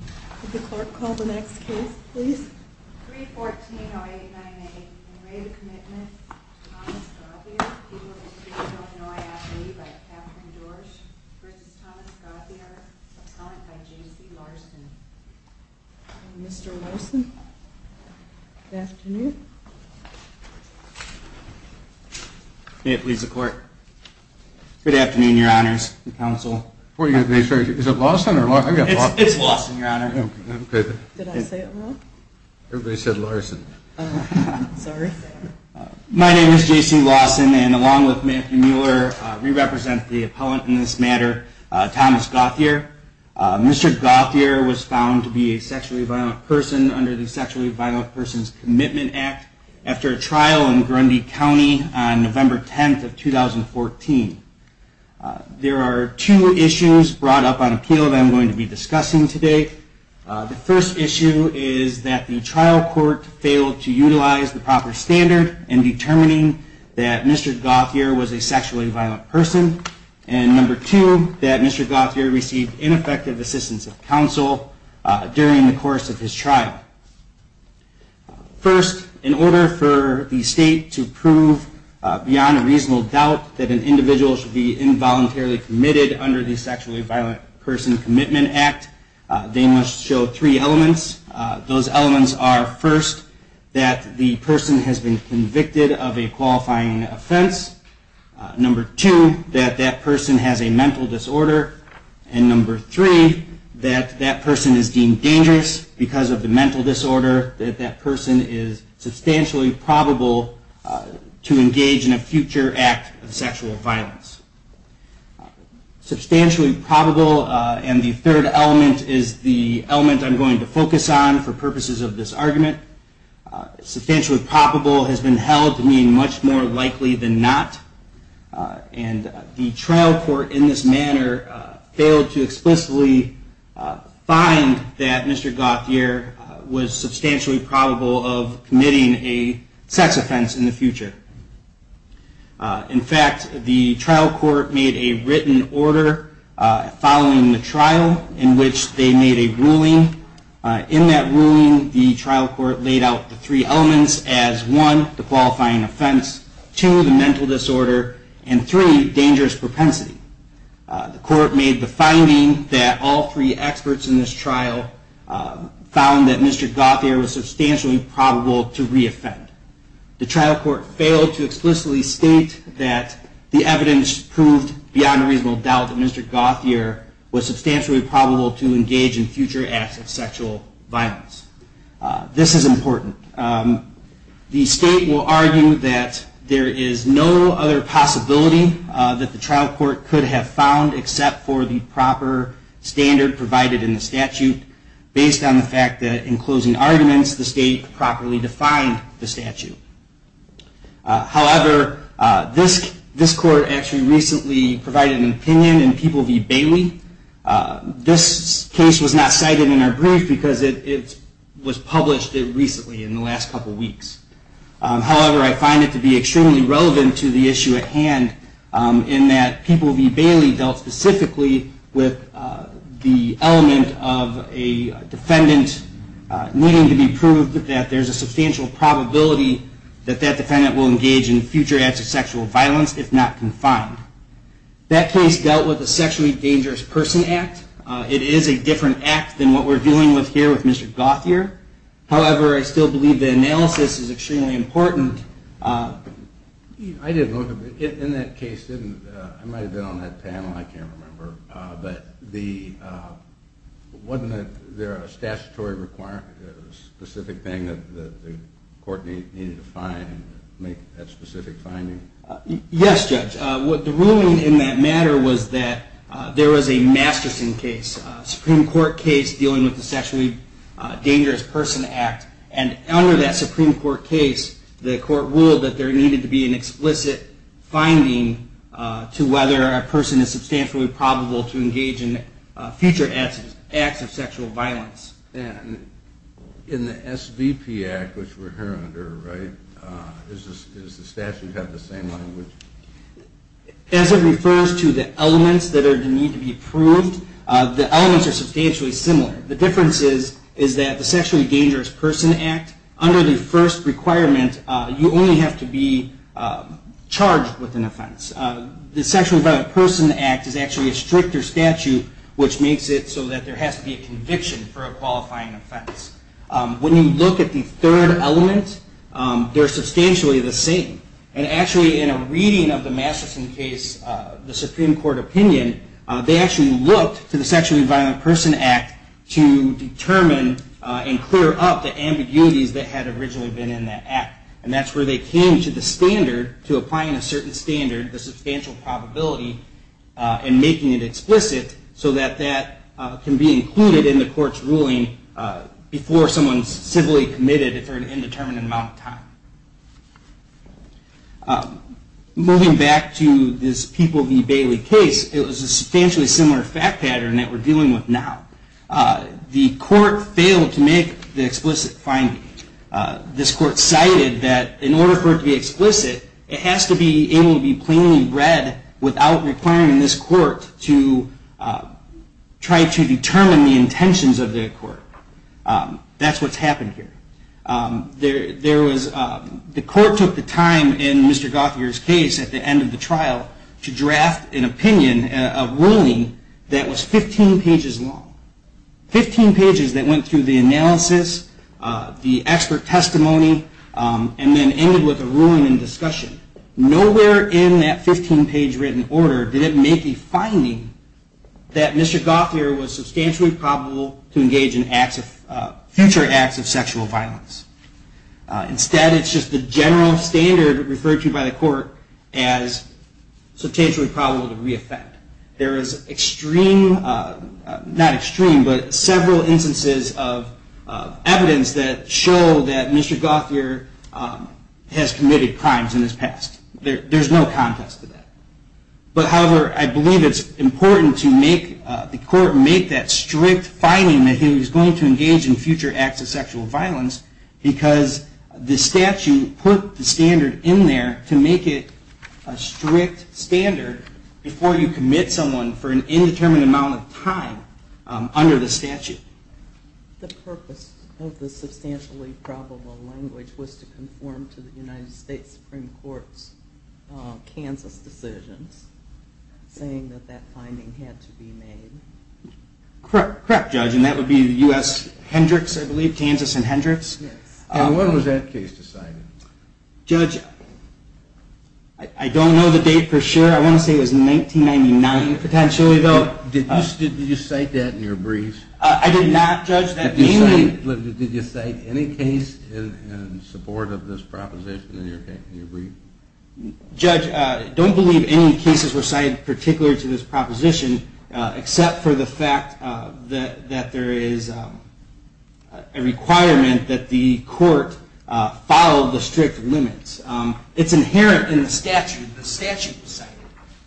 314-089-8. In re to Commitment of Thomas Gauthier, people of the District of Illinois AFB, by Kathryn Dorsch, v. Thomas Gauthier, subsequent by J.C. Larson. Mr. Larson, good afternoon. May it please the Court. Good afternoon, Your Honors. Is it Lawson or Lawson? It's Lawson, Your Honor. Did I say it wrong? Everybody said Larson. Sorry. My name is J.C. Lawson, and along with Matthew Mueller, we represent the appellant in this matter, Thomas Gauthier. Mr. Gauthier was found to be a sexually violent person under the Sexually Violent Persons Commitment Act after a trial in Grundy County on November 10, 2014. There are two issues brought up on appeal that I'm going to be discussing today. The first issue is that the trial court failed to utilize the proper standard in determining that Mr. Gauthier was a sexually violent person. And number two, that Mr. Gauthier received ineffective assistance of counsel during the course of his trial. First, in order for the state to prove beyond a reasonable doubt that an individual should be involuntarily committed under the Sexually Violent Person Commitment Act, they must show three elements. Those elements are, first, that the person has been convicted of a qualifying offense. Number two, that that person has a mental disorder. And number three, that that person is deemed dangerous because of the mental disorder. That that person is substantially probable to engage in a future act of sexual violence. Substantially probable, and the third element is the element I'm going to focus on for purposes of this argument. Substantially probable has been held to mean much more likely than not. And the trial court in this manner failed to explicitly find that Mr. Gauthier was substantially probable of committing a sex offense in the future. In fact, the trial court made a written order following the trial in which they made a ruling. In that ruling, the trial court laid out the three elements as, one, the qualifying offense. Two, the mental disorder. And three, dangerous propensity. The court made the finding that all three experts in this trial found that Mr. Gauthier was substantially probable to re-offend. The trial court failed to explicitly state that the evidence proved beyond a reasonable doubt that Mr. Gauthier was substantially probable to engage in future acts of sexual violence. This is important. The state will argue that there is no other possibility that the trial court could have found except for the proper standard provided in the statute, based on the fact that in closing arguments the state properly defined the statute. However, this court actually recently provided an opinion in People v. Bailey. This case was not cited in our brief because it was published recently in the last couple weeks. However, I find it to be extremely relevant to the issue at hand in that People v. Bailey dealt specifically with the element of a defendant needing to be proved that there's a substantial probability that that defendant will engage in future acts of sexual violence, if not confined. That case dealt with the Sexually Dangerous Persons Act. It is a different act than what we're dealing with here with Mr. Gauthier. However, I still believe the analysis is extremely important. In that case, I might have been on that panel, I can't remember, but wasn't there a statutory requirement, a specific thing that the court needed to find to make that specific finding? Yes, Judge. The ruling in that matter was that there was a Masterson case, a Supreme Court case dealing with the Sexually Dangerous Persons Act, and under that Supreme Court case, the court ruled that there needed to be an explicit finding to whether a person is substantially probable to engage in future acts of sexual violence. And in the SVP Act, which we're hearing under, right, does the statute have the same language? As it refers to the elements that need to be proved, the elements are substantially similar. The difference is that the Sexually Dangerous Persons Act, under the first requirement, you only have to be charged with an offense. The Sexually Violent Persons Act is actually a stricter statute, which makes it so that there has to be a conviction for a qualifying offense. When you look at the third element, they're substantially the same. And actually, in a reading of the Masterson case, the Supreme Court opinion, they actually looked to the Sexually Violent Persons Act to determine and clear up the ambiguities that had originally been in that act. And that's where they came to the standard, to applying a certain standard, the substantial probability, and making it explicit so that that can be included in the court's ruling before someone's civilly committed for an indeterminate amount of time. Moving back to this People v. Bailey case, it was a substantially similar fact pattern that we're dealing with now. The court failed to make the explicit finding. This court cited that in order for it to be explicit, it has to be able to be plainly read without requiring this court to try to determine the intentions of the court. That's what's happened here. The court took the time in Mr. Gothier's case at the end of the trial to draft an opinion, a ruling, that was 15 pages long. Fifteen pages that went through the analysis, the expert testimony, and then ended with a ruling and discussion. Nowhere in that 15-page written order did it make a finding that Mr. Gothier was substantially probable to engage in future acts of sexual violence. Instead, it's just the general standard referred to by the court as substantially probable to re-offend. There is several instances of evidence that show that Mr. Gothier has committed crimes in his past. There's no context to that. But however, I believe it's important to make the court make that strict finding that he was going to engage in future acts of sexual violence, because the statute put the standard in there to make it a strict standard before you commit a crime. You can't commit someone for an indeterminate amount of time under the statute. The purpose of the substantially probable language was to conform to the United States Supreme Court's Kansas decisions, saying that that finding had to be made. Correct, correct, Judge, and that would be U.S. Hendricks, I believe, Kansas and Hendricks. And when was that case decided? Judge, I don't know the date for sure. I want to say it was 1999, potentially, though. Did you cite that in your brief? I did not, Judge. Did you cite any case in support of this proposition in your brief? Judge, I don't believe any cases were cited particular to this proposition, except for the fact that there is a requirement that the court file the strict limits. It's inherent in the statute. The statute was cited.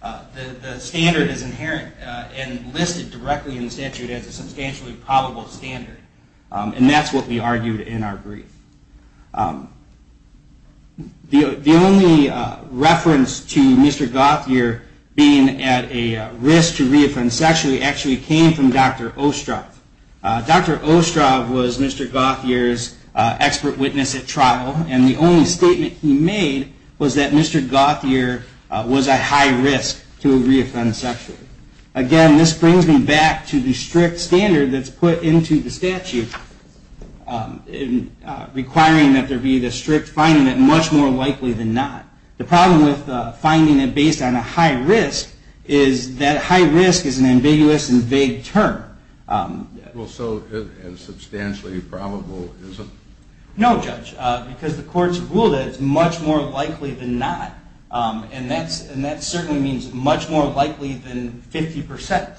The standard is inherent and listed directly in the statute as a substantially probable standard, and that's what we argued in our brief. The only reference to Mr. Gauthier being at a risk to reoffend sexually actually came from Dr. Ostroff. Dr. Ostroff was Mr. Gauthier's expert witness at trial, and the only statement he made was that Mr. Gauthier was at high risk to reoffend sexually. Again, this brings me back to the strict standard that's put into the statute, requiring that there be the strict finding that much more likely than not. The problem with finding it based on a high risk is that high risk is an ambiguous and vague term. Well, so it's substantially probable, is it? No, Judge, because the courts rule that it's much more likely than not, and that certainly means much more likely than 50%.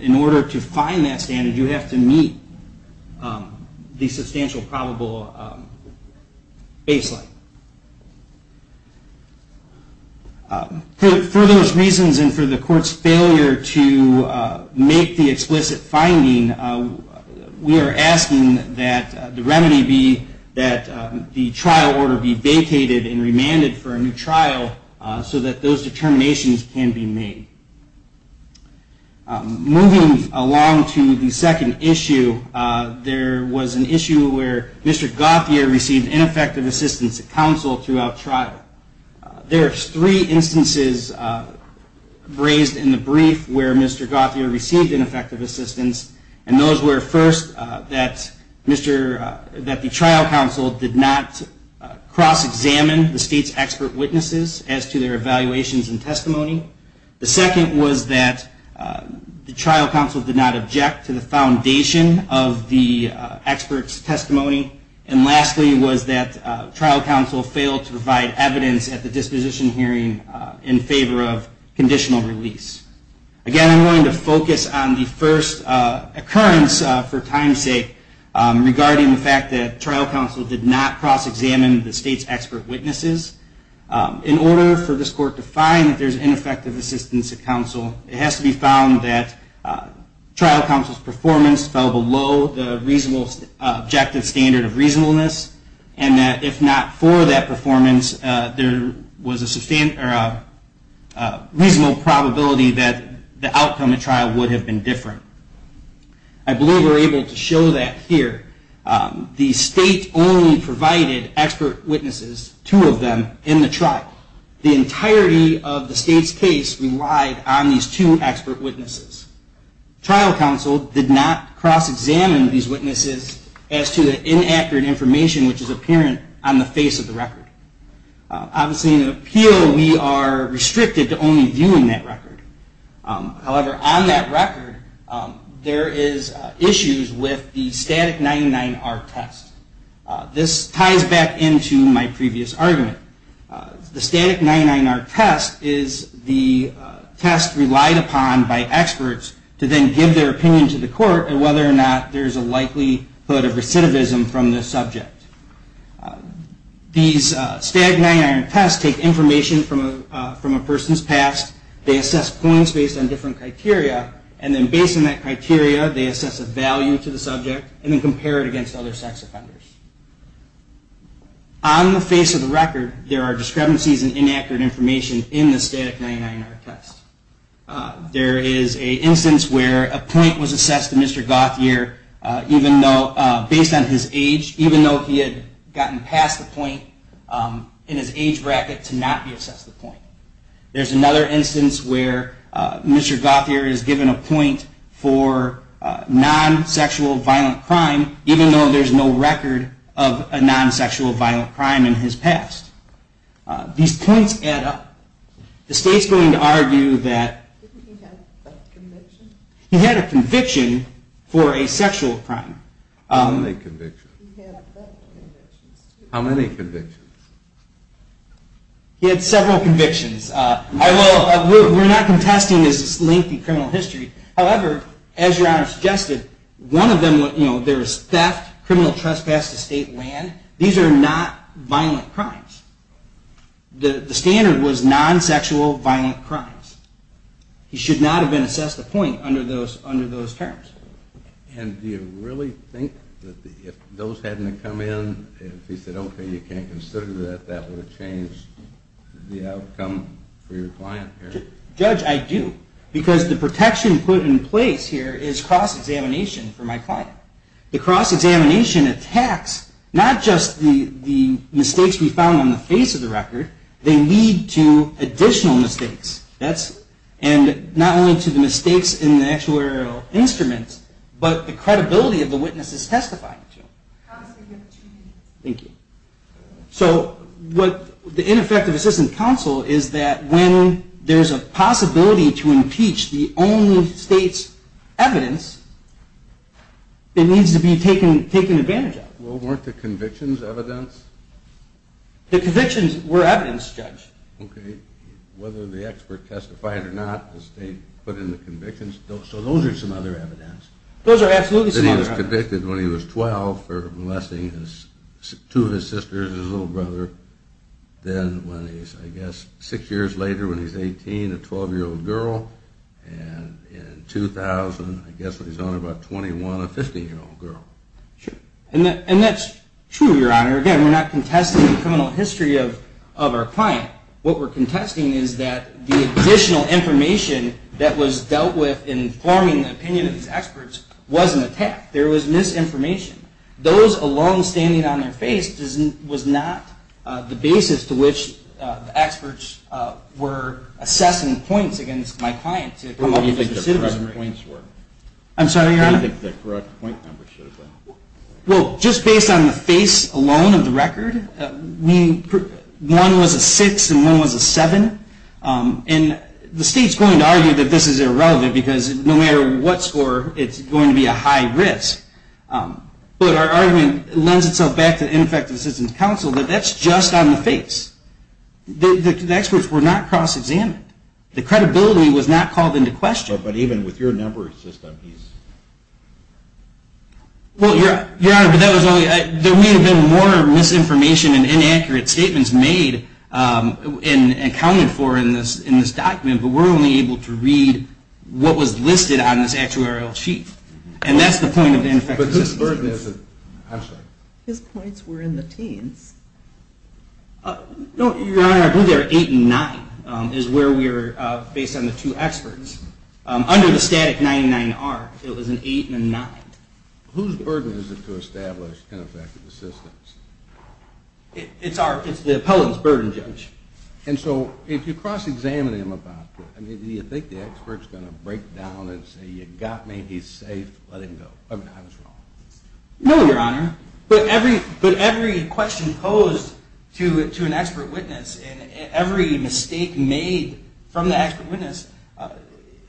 In order to find that standard, you have to meet the substantial probable baseline. For those reasons and for the court's failure to make the explicit finding, we are asking that the remedy be that the trial order be vacated and remanded for a new trial so that those determinations can be made. Moving along to the second issue, there was an issue where Mr. Gauthier received ineffective assistance, except for a portion of the trial. There are three instances raised in the brief where Mr. Gauthier received ineffective assistance, and those were, first, that the trial counsel did not cross-examine the state's expert witnesses as to their evaluations and testimony. The second was that the trial counsel did not object to the foundation of the expert's testimony. And lastly, was that trial counsel did not object to the fact that the trial counsel failed to provide evidence at the disposition hearing in favor of conditional release. Again, I'm going to focus on the first occurrence, for time's sake, regarding the fact that trial counsel did not cross-examine the state's expert witnesses. In order for this court to find that there's ineffective assistance at counsel, it has to be found that trial counsel's performance fell below the reasonable objective standard of reasonableness, and that if not for that, the trial counsel would not have been able to provide evidence at the disposal hearing. And if not for that performance, there was a reasonable probability that the outcome of trial would have been different. I believe we're able to show that here. The state only provided expert witnesses, two of them, in the trial. The entirety of the state's case relied on these two expert witnesses. Trial counsel did not cross-examine these witnesses as to the inaccurate information which is apparent on the face of the record. Obviously, in an appeal, we are restricted to only viewing that record. However, on that record, there is issues with the static 99R test. This ties back into my previous argument. The static 99R test is the test relied upon by experts to then give their opinion to the court on whether or not there's a likelihood of recidivism from the subject. These static 99R tests take information from a person's past, they assess points based on different criteria, and then based on that criteria, they assess a value to the subject and then compare it against other sex offenders. On the face of the record, there are discrepancies in inaccurate information in the static 99R test. There is an incident where a point was assessed to Mr. Gauthier based on his age, even though he had gotten past the point in his age bracket to not be assessed the point. There's another instance where Mr. Gauthier is given a point for non-sexual violent crime, even though there's no record of a non-sexual violent crime in his past. These points add up. The state's going to argue that he had no record of non-sexual violent crime. He had a conviction for a sexual crime. How many convictions? He had several convictions. We're not contesting his lengthy criminal history. However, as your Honor suggested, one of them, there was theft, criminal trespass to state land. These are not violent crimes. The standard was non-sexual violent crimes. He should not have been assessed a point under those standards. And do you really think that if those hadn't come in, if he said, okay, you can't consider that, that would have changed the outcome for your client here? Judge, I do. Because the protection put in place here is cross-examination for my client. The cross-examination attacks not just the mistakes we found on the face of the record. They lead to additional mistakes. And not only to the mistakes in the actual area of the record, but they lead to additional mistakes. So, the ineffective assistant counsel is that when there's a possibility to impeach the only state's evidence, it needs to be taken advantage of. Well, weren't the convictions evidence? The convictions were evidence, Judge. Okay. Whether the expert testified or not, the state put in the convictions. So, those are some other evidence. Those are absolutely some other evidence. That he was convicted when he was 12 for molesting two of his sisters, his little brother. Then when he was, I guess, six years later when he was 18, a 12-year-old girl. And in 2000, I guess, when he was only about 21, a 15-year-old girl. Sure. And that's true, Your Honor. Again, we're not contesting the criminal history of our client. What we're contesting is that the additional information that was dealt with in forming the opinion of these experts was an attack. There was misinformation. Those alone standing on their face was not the basis to which the experts were assessing points against my client to come up with a decision. I'm sorry, Your Honor? I don't think the correct point number should have been. Well, just based on the face alone of the record, meaning one was a 6 and one was a 7. And the state's going to argue that this is irrelevant because no matter what score, it's going to be a high risk. But our argument lends itself back to the Ineffective Assistance Council that that's just on the face. The experts were not cross-examined. The credibility was not called into question. But even with your number system, he's... Well, Your Honor, there may have been more misinformation and inaccurate statements made and accounted for in this document, but we're only able to read what was listed on this actuarial sheet. And that's the point of the Ineffective Assistance Council. His points were in the teens. No, Your Honor, I believe they were 8 and 9 is where we were based on the two experts. Under the static 99R, it was an 8 and a 9. Whose burden is it to establish ineffective assistance? It's the appellant's burden, Judge. And so if you cross-examine him about it, do you think the expert's going to break down and say, you got me, he's safe, let him go? I mean, I was wrong. No, Your Honor. But every question posed to an expert witness and every mistake made from the expert witness,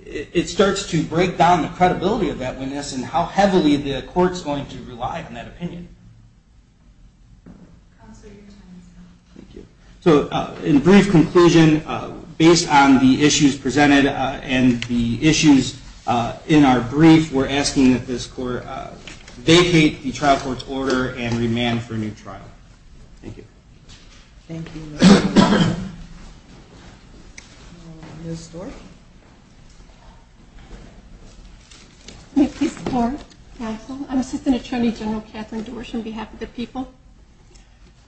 it starts to break down the court's going to rely on that opinion. So in brief conclusion, based on the issues presented and the issues in our brief, we're asking that this court vacate the trial court's order and remand for a new trial. Thank you. Thank you, counsel. I'm Assistant Attorney General Katherine Dorsh on behalf of the people.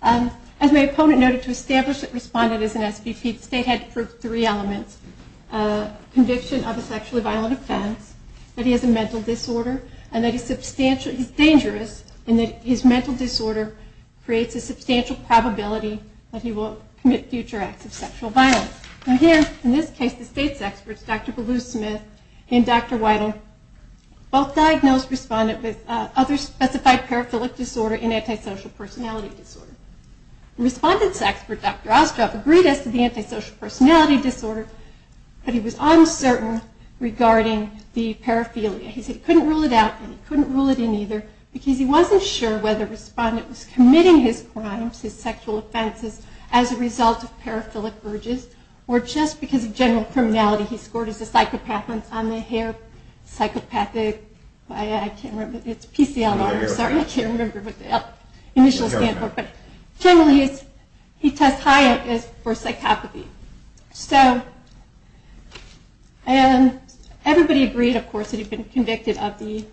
As my opponent noted, to establish that Respondent is an SVP, the state had to prove three elements. Conviction of a sexually violent offense, that he has a mental disorder, and that he's substantially dangerous and that his mental disorder creates a substantial probability that he will commit future acts of sexual violence. And here, in this case, the state's experts, Dr. Baloo-Smith and Dr. Weidel, both diagnosed Respondent with sexual violence. Others specified paraphilic disorder and antisocial personality disorder. Respondent's expert, Dr. Ostroff, agreed as to the antisocial personality disorder, but he was uncertain regarding the paraphilia. He said he couldn't rule it out and he couldn't rule it in either, because he wasn't sure whether Respondent was committing his crimes, his sexual offenses, as a result of paraphilic urges, or just because of general criminality. He scored as a psychopath on the hair psychopathic, I can't remember, but it's something like that. It's PCLR, I'm sorry, I can't remember the initial standard, but generally he tests high for psychopathy. And everybody agreed, of course, that he'd been convicted of the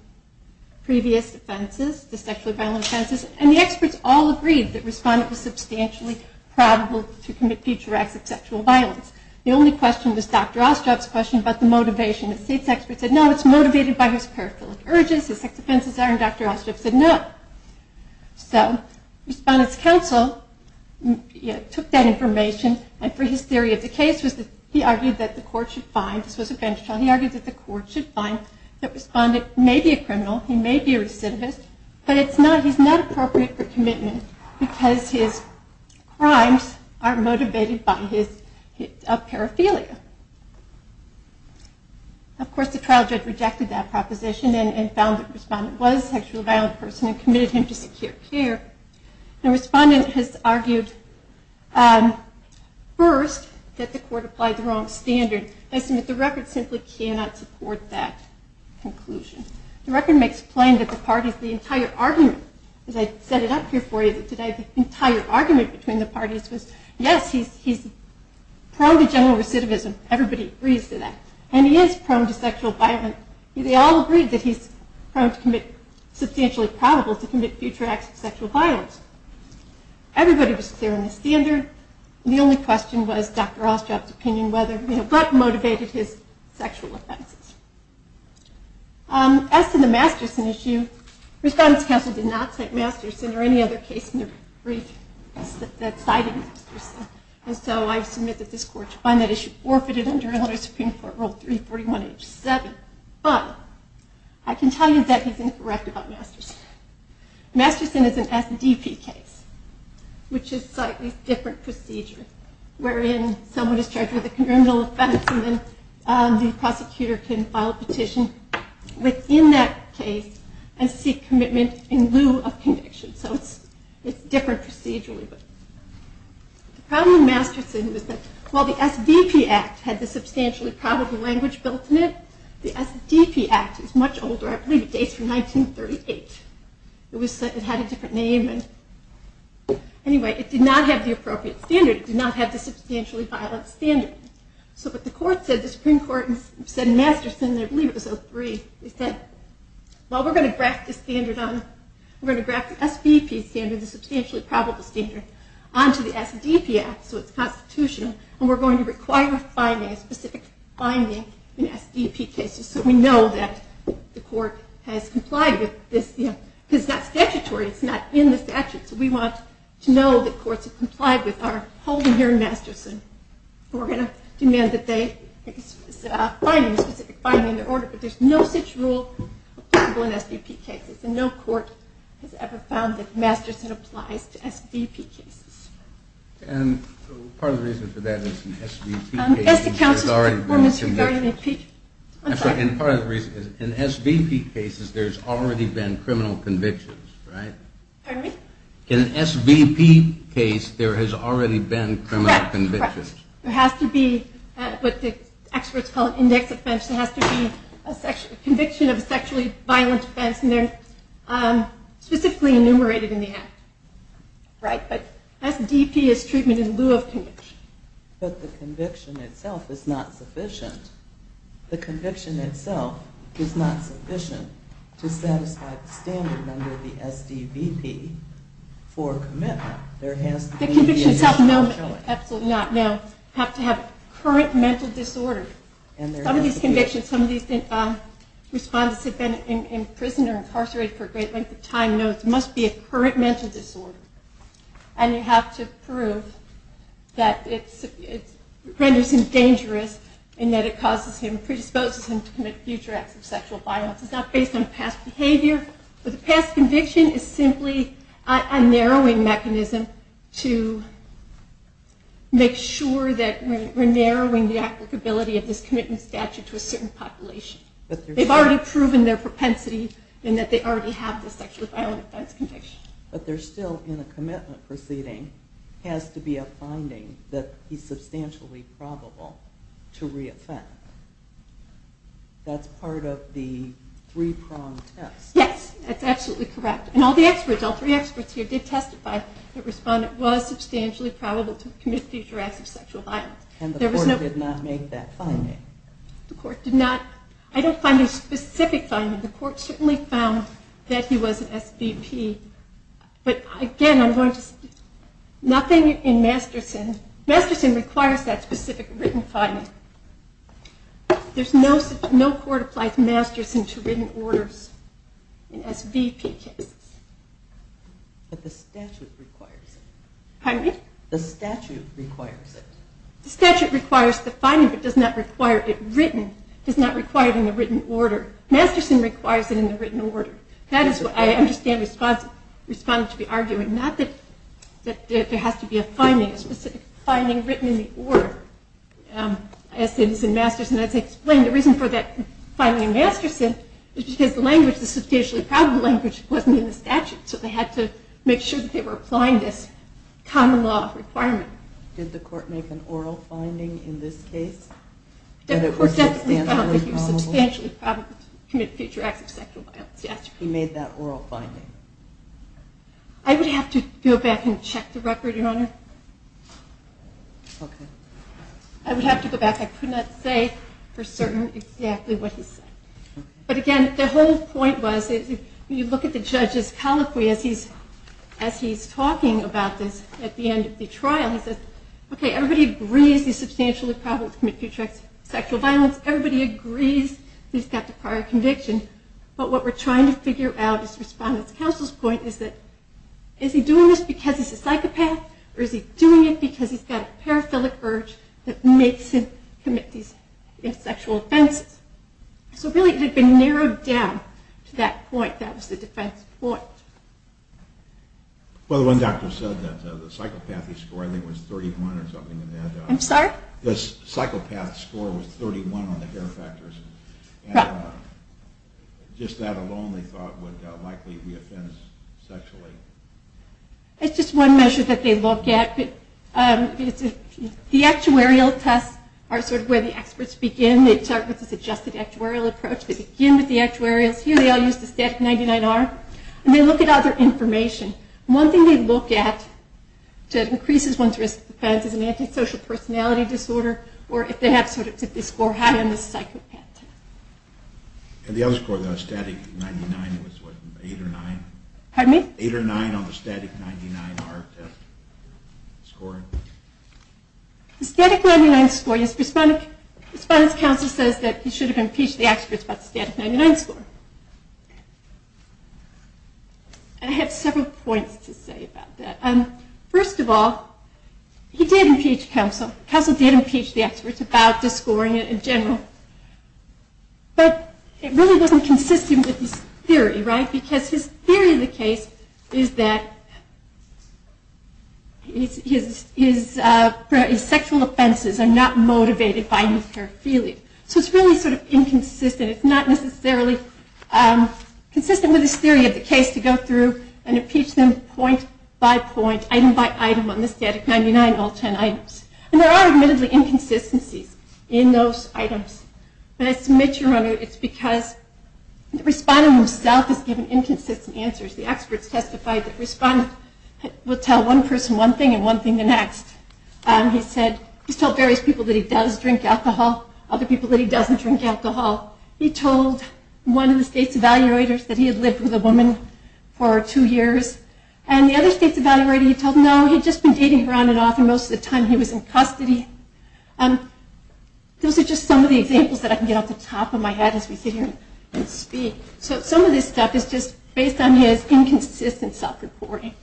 previous offenses, the sexually violent offenses, and the experts all agreed that Respondent was substantially probable to commit future acts of sexual violence. The only question was Dr. Ostroff's question about the motivation. The state's expert said no, it's motivated by his paraphilic urges, his sexual offenses are, and Dr. Ostroff said no. So Respondent's counsel took that information, and for his theory of the case, he argued that the court should find, this was a bench trial, he argued that the court should find that Respondent may be a criminal, he may be a recidivist, but he's not appropriate for commitment because his crimes are motivated by his paraphilia. Of course, the trial judge rejected that proposition and found that Respondent was a sexually violent person and committed him to secure care, and Respondent has argued, first, that the court applied the wrong standard. I submit the record simply cannot support that conclusion. The record makes plain that the parties, the entire argument, as I set it up here for you today, the entire argument between the parties was yes, he's prone to general recidivism, everybody agrees to that, and he is prone to sexual violence, they all agree that he's prone to commit, substantially probable to commit future acts of sexual violence. Everybody was clear on the standard, the only question was Dr. Ostroff's opinion, what motivated his sexual offenses. As to the Masterson issue, Respondent's counsel did not cite Masterson or any other case in their brief that cited Masterson, and so I submit that this court to find that issue forfeited under Illinois Supreme Court Rule 341H7, but I can tell you that he's incorrect about Masterson. Masterson is an SDP case, which is a slightly different procedure, wherein someone is charged with a criminal offense and then the prosecutor can file a petition within that case and seek commitment in lieu of conviction, so it's different procedurally. The problem with Masterson was that while the SBP Act had the substantially probable language built in it, the SDP Act is much older, I believe it dates from 1938, it had a different name, and anyway, it did not have the appropriate standard, it did not have the substantially violent standard. So what the Supreme Court said in Masterson, I believe it was 03, they said, well we're going to graft the SBP standard, the substantially probable standard, onto the SDP Act, so it's constitutional, and we're going to require a specific finding in SDP cases, so we know that the court has complied with this, because it's not statutory, it's not in the statute, so we want to know that courts have complied with our holding here in Masterson. We're going to demand that they find a specific finding in their order, but there's no such rule applicable in SDP cases, and no court has ever found that Masterson applies to SBP cases. And part of the reason for that is in SBP cases there's already been convictions. I'm sorry, and part of the reason is in SBP cases there's already been criminal convictions, right? Pardon me? In an SBP case there has already been criminal convictions. There has to be, what the experts call an index offense, there has to be a conviction of a sexually violent offense, and they're specifically enumerated in the act. Right, but SDP is treatment in lieu of conviction. But the conviction itself is not sufficient. The conviction itself is not sufficient to satisfy the standard under the SBP for a commitment. The convictions have to have current mental disorder. Some of these convictions, some of these respondents have been in prison or incarcerated for a great length of time and know it must be a current mental disorder. And you have to prove that it renders him dangerous, and that it predisposes him to commit future acts of sexual violence. It's not based on past behavior, but the past conviction is simply a narrowing mechanism to make sure that we're narrowing the applicability of this commitment statute to a certain population. They've already proven their propensity and that they already have the sexually violent offense conviction. But there still, in a commitment proceeding, has to be a finding that he's substantially probable to reoffend. That's part of the three-pronged test. Yes, that's absolutely correct. And all three experts here did testify that the respondent was substantially probable to commit future acts of sexual violence. And the court did not make that finding? I don't find a specific finding. The court certainly found that he was an SBP. But again, nothing in Masterson. Masterson requires that specific written finding. No court applies Masterson to written orders in SBP cases. But the statute requires it. The statute requires the finding, but does not require it written. Masterson requires it in the written order. That is what I understand the respondent to be arguing. Not that there has to be a specific finding written in the order. As I explained, the reason for that finding in Masterson is because the language, the substantially probable language, wasn't in the statute. So they had to make sure that they were applying this common law requirement. Did the court make an oral finding in this case? He was substantially probable to commit future acts of sexual violence. I would have to go back and check the record, Your Honor. I would have to go back. I could not say for certain exactly what he said. But again, the whole point was, when you look at the judge's colloquy as he's talking about this at the end of the trial, he says, okay, everybody agrees he's substantially probable to commit future acts of sexual violence. Everybody agrees he's got the prior conviction. But what we're trying to figure out is the respondent's counsel's point. Is he doing this because he's a psychopath? Or is he doing it because he's got a paraphilic urge that makes him commit these sexual offenses? So really, it had been narrowed down to that point. That was the defense point. Well, the one doctor said that the psychopathy score, I think, was 31 or something like that. I'm sorry? The psychopath score was 31 on the hair factors. Just that alone, they thought, would likely reoffend sexually. It's just one measure that they look at. The actuarial tests are sort of where the experts begin. They start with this adjusted actuarial approach. They begin with the actuarials. Here they all use the static 99R. And they look at other information. One thing they look at that increases one's risk of offense is an antisocial personality disorder, or if they score high on the psychopath test. And the other score, the static 99 was what, 8 or 9? 8 or 9 on the static 99R test score? The static 99 score, his response counsel says that he should have impeached the experts about the static 99 score. I have several points to say about that. First of all, he did impeach counsel. Counsel did impeach the experts about the scoring in general. But it really wasn't consistent with his theory, right? Because his theory of the case is that his sexual offenses are not motivated by new paraphilia. So it's really sort of inconsistent. It's not necessarily consistent with his theory of the case to go through and impeach them point by point, item by item on the static 99, all 10 items. And there are admittedly inconsistencies in those items. But I submit to your honor, it's because the respondent himself has given inconsistent answers. The experts testified that the respondent will tell one person one thing and one thing the next. He said, he's told various people that he does drink alcohol, other people that he doesn't drink alcohol. He told one of the state's evaluators that he had lived with a woman for two years. And the other state's evaluator, he told no, he'd just been dating her on and off most of the time he was in custody. Those are just some of the examples that I can get off the top of my head as we sit here and speak. So some of this stuff is just based on his inconsistent self-reporting.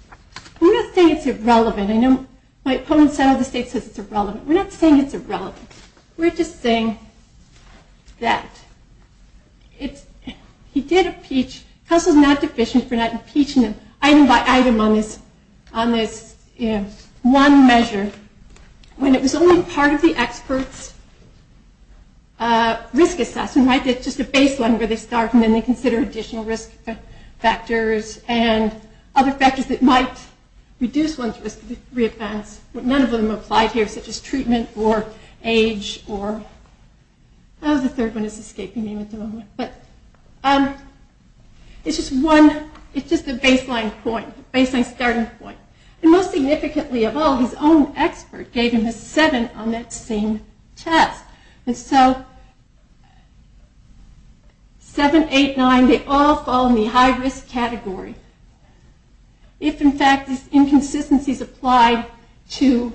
We're not saying it's irrelevant. I know my opponents out of the state says it's irrelevant. We're not saying it's irrelevant. We're just saying that he did impeach, counsel's not deficient for not measure when it was only part of the expert's risk assessment. It's just a baseline where they start and then they consider additional risk factors and other factors that might reduce one's risk to re-advance. None of them applied here such as treatment or age or the third one is escaping me at the moment. But it's just one it's just a baseline point, baseline starting point. And most significantly of all, his own expert gave him a 7 on that same test. And so 7, 8, 9, they all fall in the high risk category. If in fact this inconsistency is applied to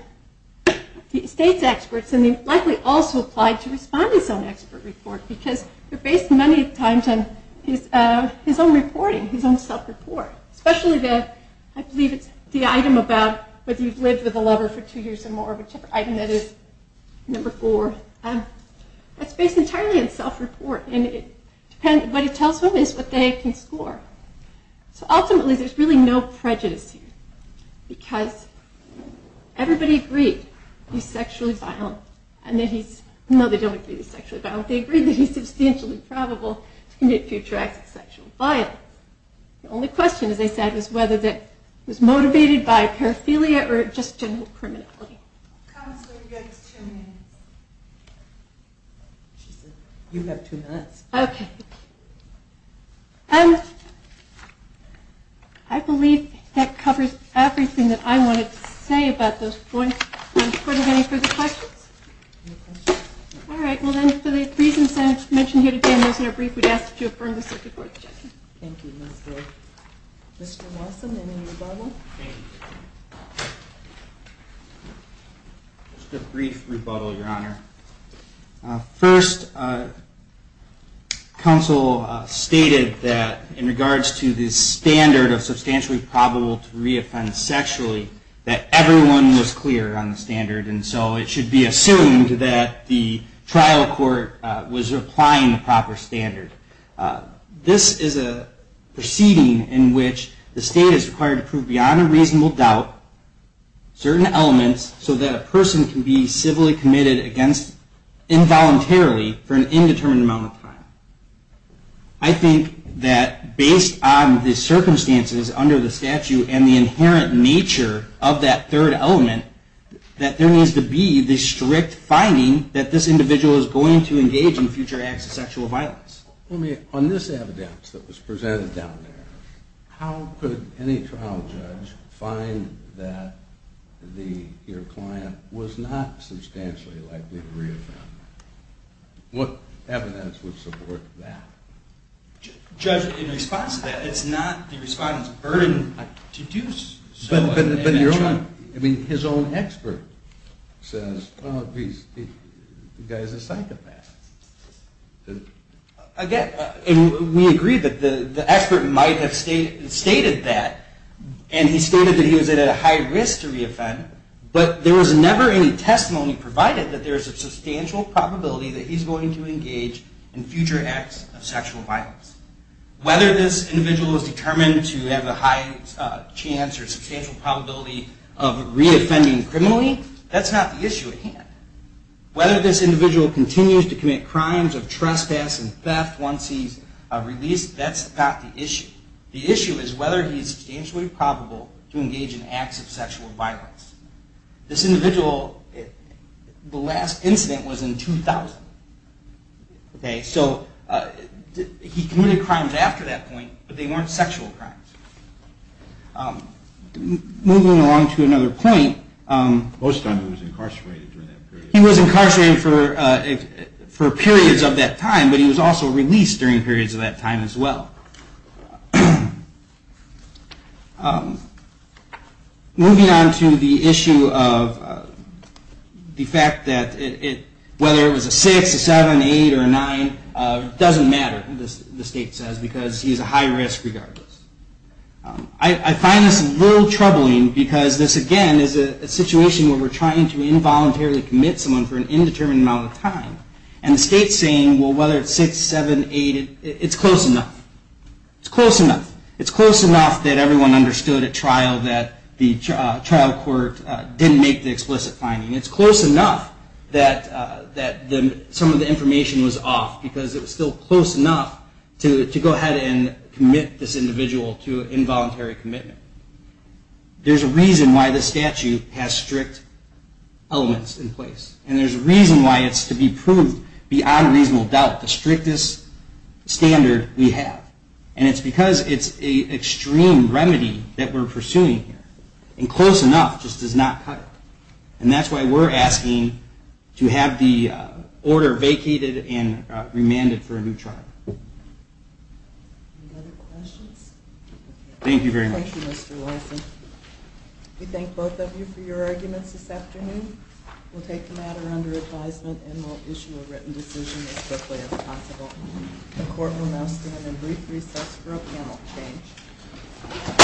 the state's experts and likely also applied to respond to his own expert report. Because they're based many times on his own reporting, his own self-report. Especially the, I believe it's the item about whether you've lived with a lover for two years or more, whichever item that is, number 4. That's based entirely on self-report and what it tells them is what they can score. So ultimately there's really no prejudice here because everybody agreed he's sexually violent and that he's, no they don't agree he's sexually violent, they agree that he's substantially probable to commit future acts of sexual violence. The only question as I said was whether that was motivated by paraphilia or just general criminality. How much longer do you guys have? You have two minutes. Okay. I believe that covers everything that I wanted to say about those points. Are there any further questions? Alright, well then for the reasons I mentioned here today and those in our brief, we'd ask you to affirm the circuit board's judgment. Thank you, Ms. Grove. Mr. Lawson, any rebuttal? Just a brief rebuttal, Your Honor. First, counsel stated that in regards to the standard of substantially probable to reoffend sexually, that everyone was clear on the standard and so it should be assumed that the trial court was applying the proper standard. This is a proceeding in which the state is required to prove beyond a reasonable doubt certain elements so that a person can be civilly committed against involuntarily for an indeterminate amount of time. I think that based on the circumstances under the statute and the inherent nature of that third element, that there needs to be the strict finding that this individual is going to engage in future acts of sexual violence. On this trial, judge, find that your client was not substantially likely to reoffend. What evidence would support that? Judge, in response to that, it's not the respondent's burden to do so. But your own, I mean, his own expert says, well, the guy's a psychopath. Again, we agree that the expert might have stated that and he stated that he was at a high risk to reoffend, but there was never any testimony provided that there is a substantial probability that he's going to engage in future acts of sexual violence. Whether this individual is determined to have a high chance or substantial probability of reoffending criminally, that's not the issue at hand. Whether this individual continues to commit crimes of trespass and theft once he's released, that's not the issue. The issue is whether he's substantially probable to engage in acts of sexual violence. This individual, the last incident was in 2000. So he committed crimes after that point, but they weren't sexual crimes. Moving along to another point. He was incarcerated for periods of that time, but he was also released during periods of that time as well. Moving on to the issue of the fact that whether it was a 6, a 7, an 8, or a 9, it doesn't matter, the state says, because he's a high risk regardless. I find this a little troubling because this, again, is a situation where we're trying to involuntarily commit someone for an indeterminate amount of time, and the state's saying, well, whether it's 6, 7, 8, it's close enough. It's close enough. It's close enough that everyone understood at trial that the trial court didn't make the explicit finding. It's close enough that some of the information was off because it was still close enough to go ahead and commit this individual to involuntary commitment. There's a reason why the statute has strict elements in place. And there's a reason why it's to be proved beyond reasonable doubt, the strictest standard we have. And it's because it's an extreme remedy that we're pursuing here. And close enough just does not cut it. And that's why we're asking to have the order vacated and remanded for a new trial. Any other questions? Thank you very much. Thank you, Mr. Larson. We thank both of you for your arguments this afternoon. We'll take the matter under advisement and we'll issue a written decision as quickly as possible. The court will now stand in brief recess for a panel change.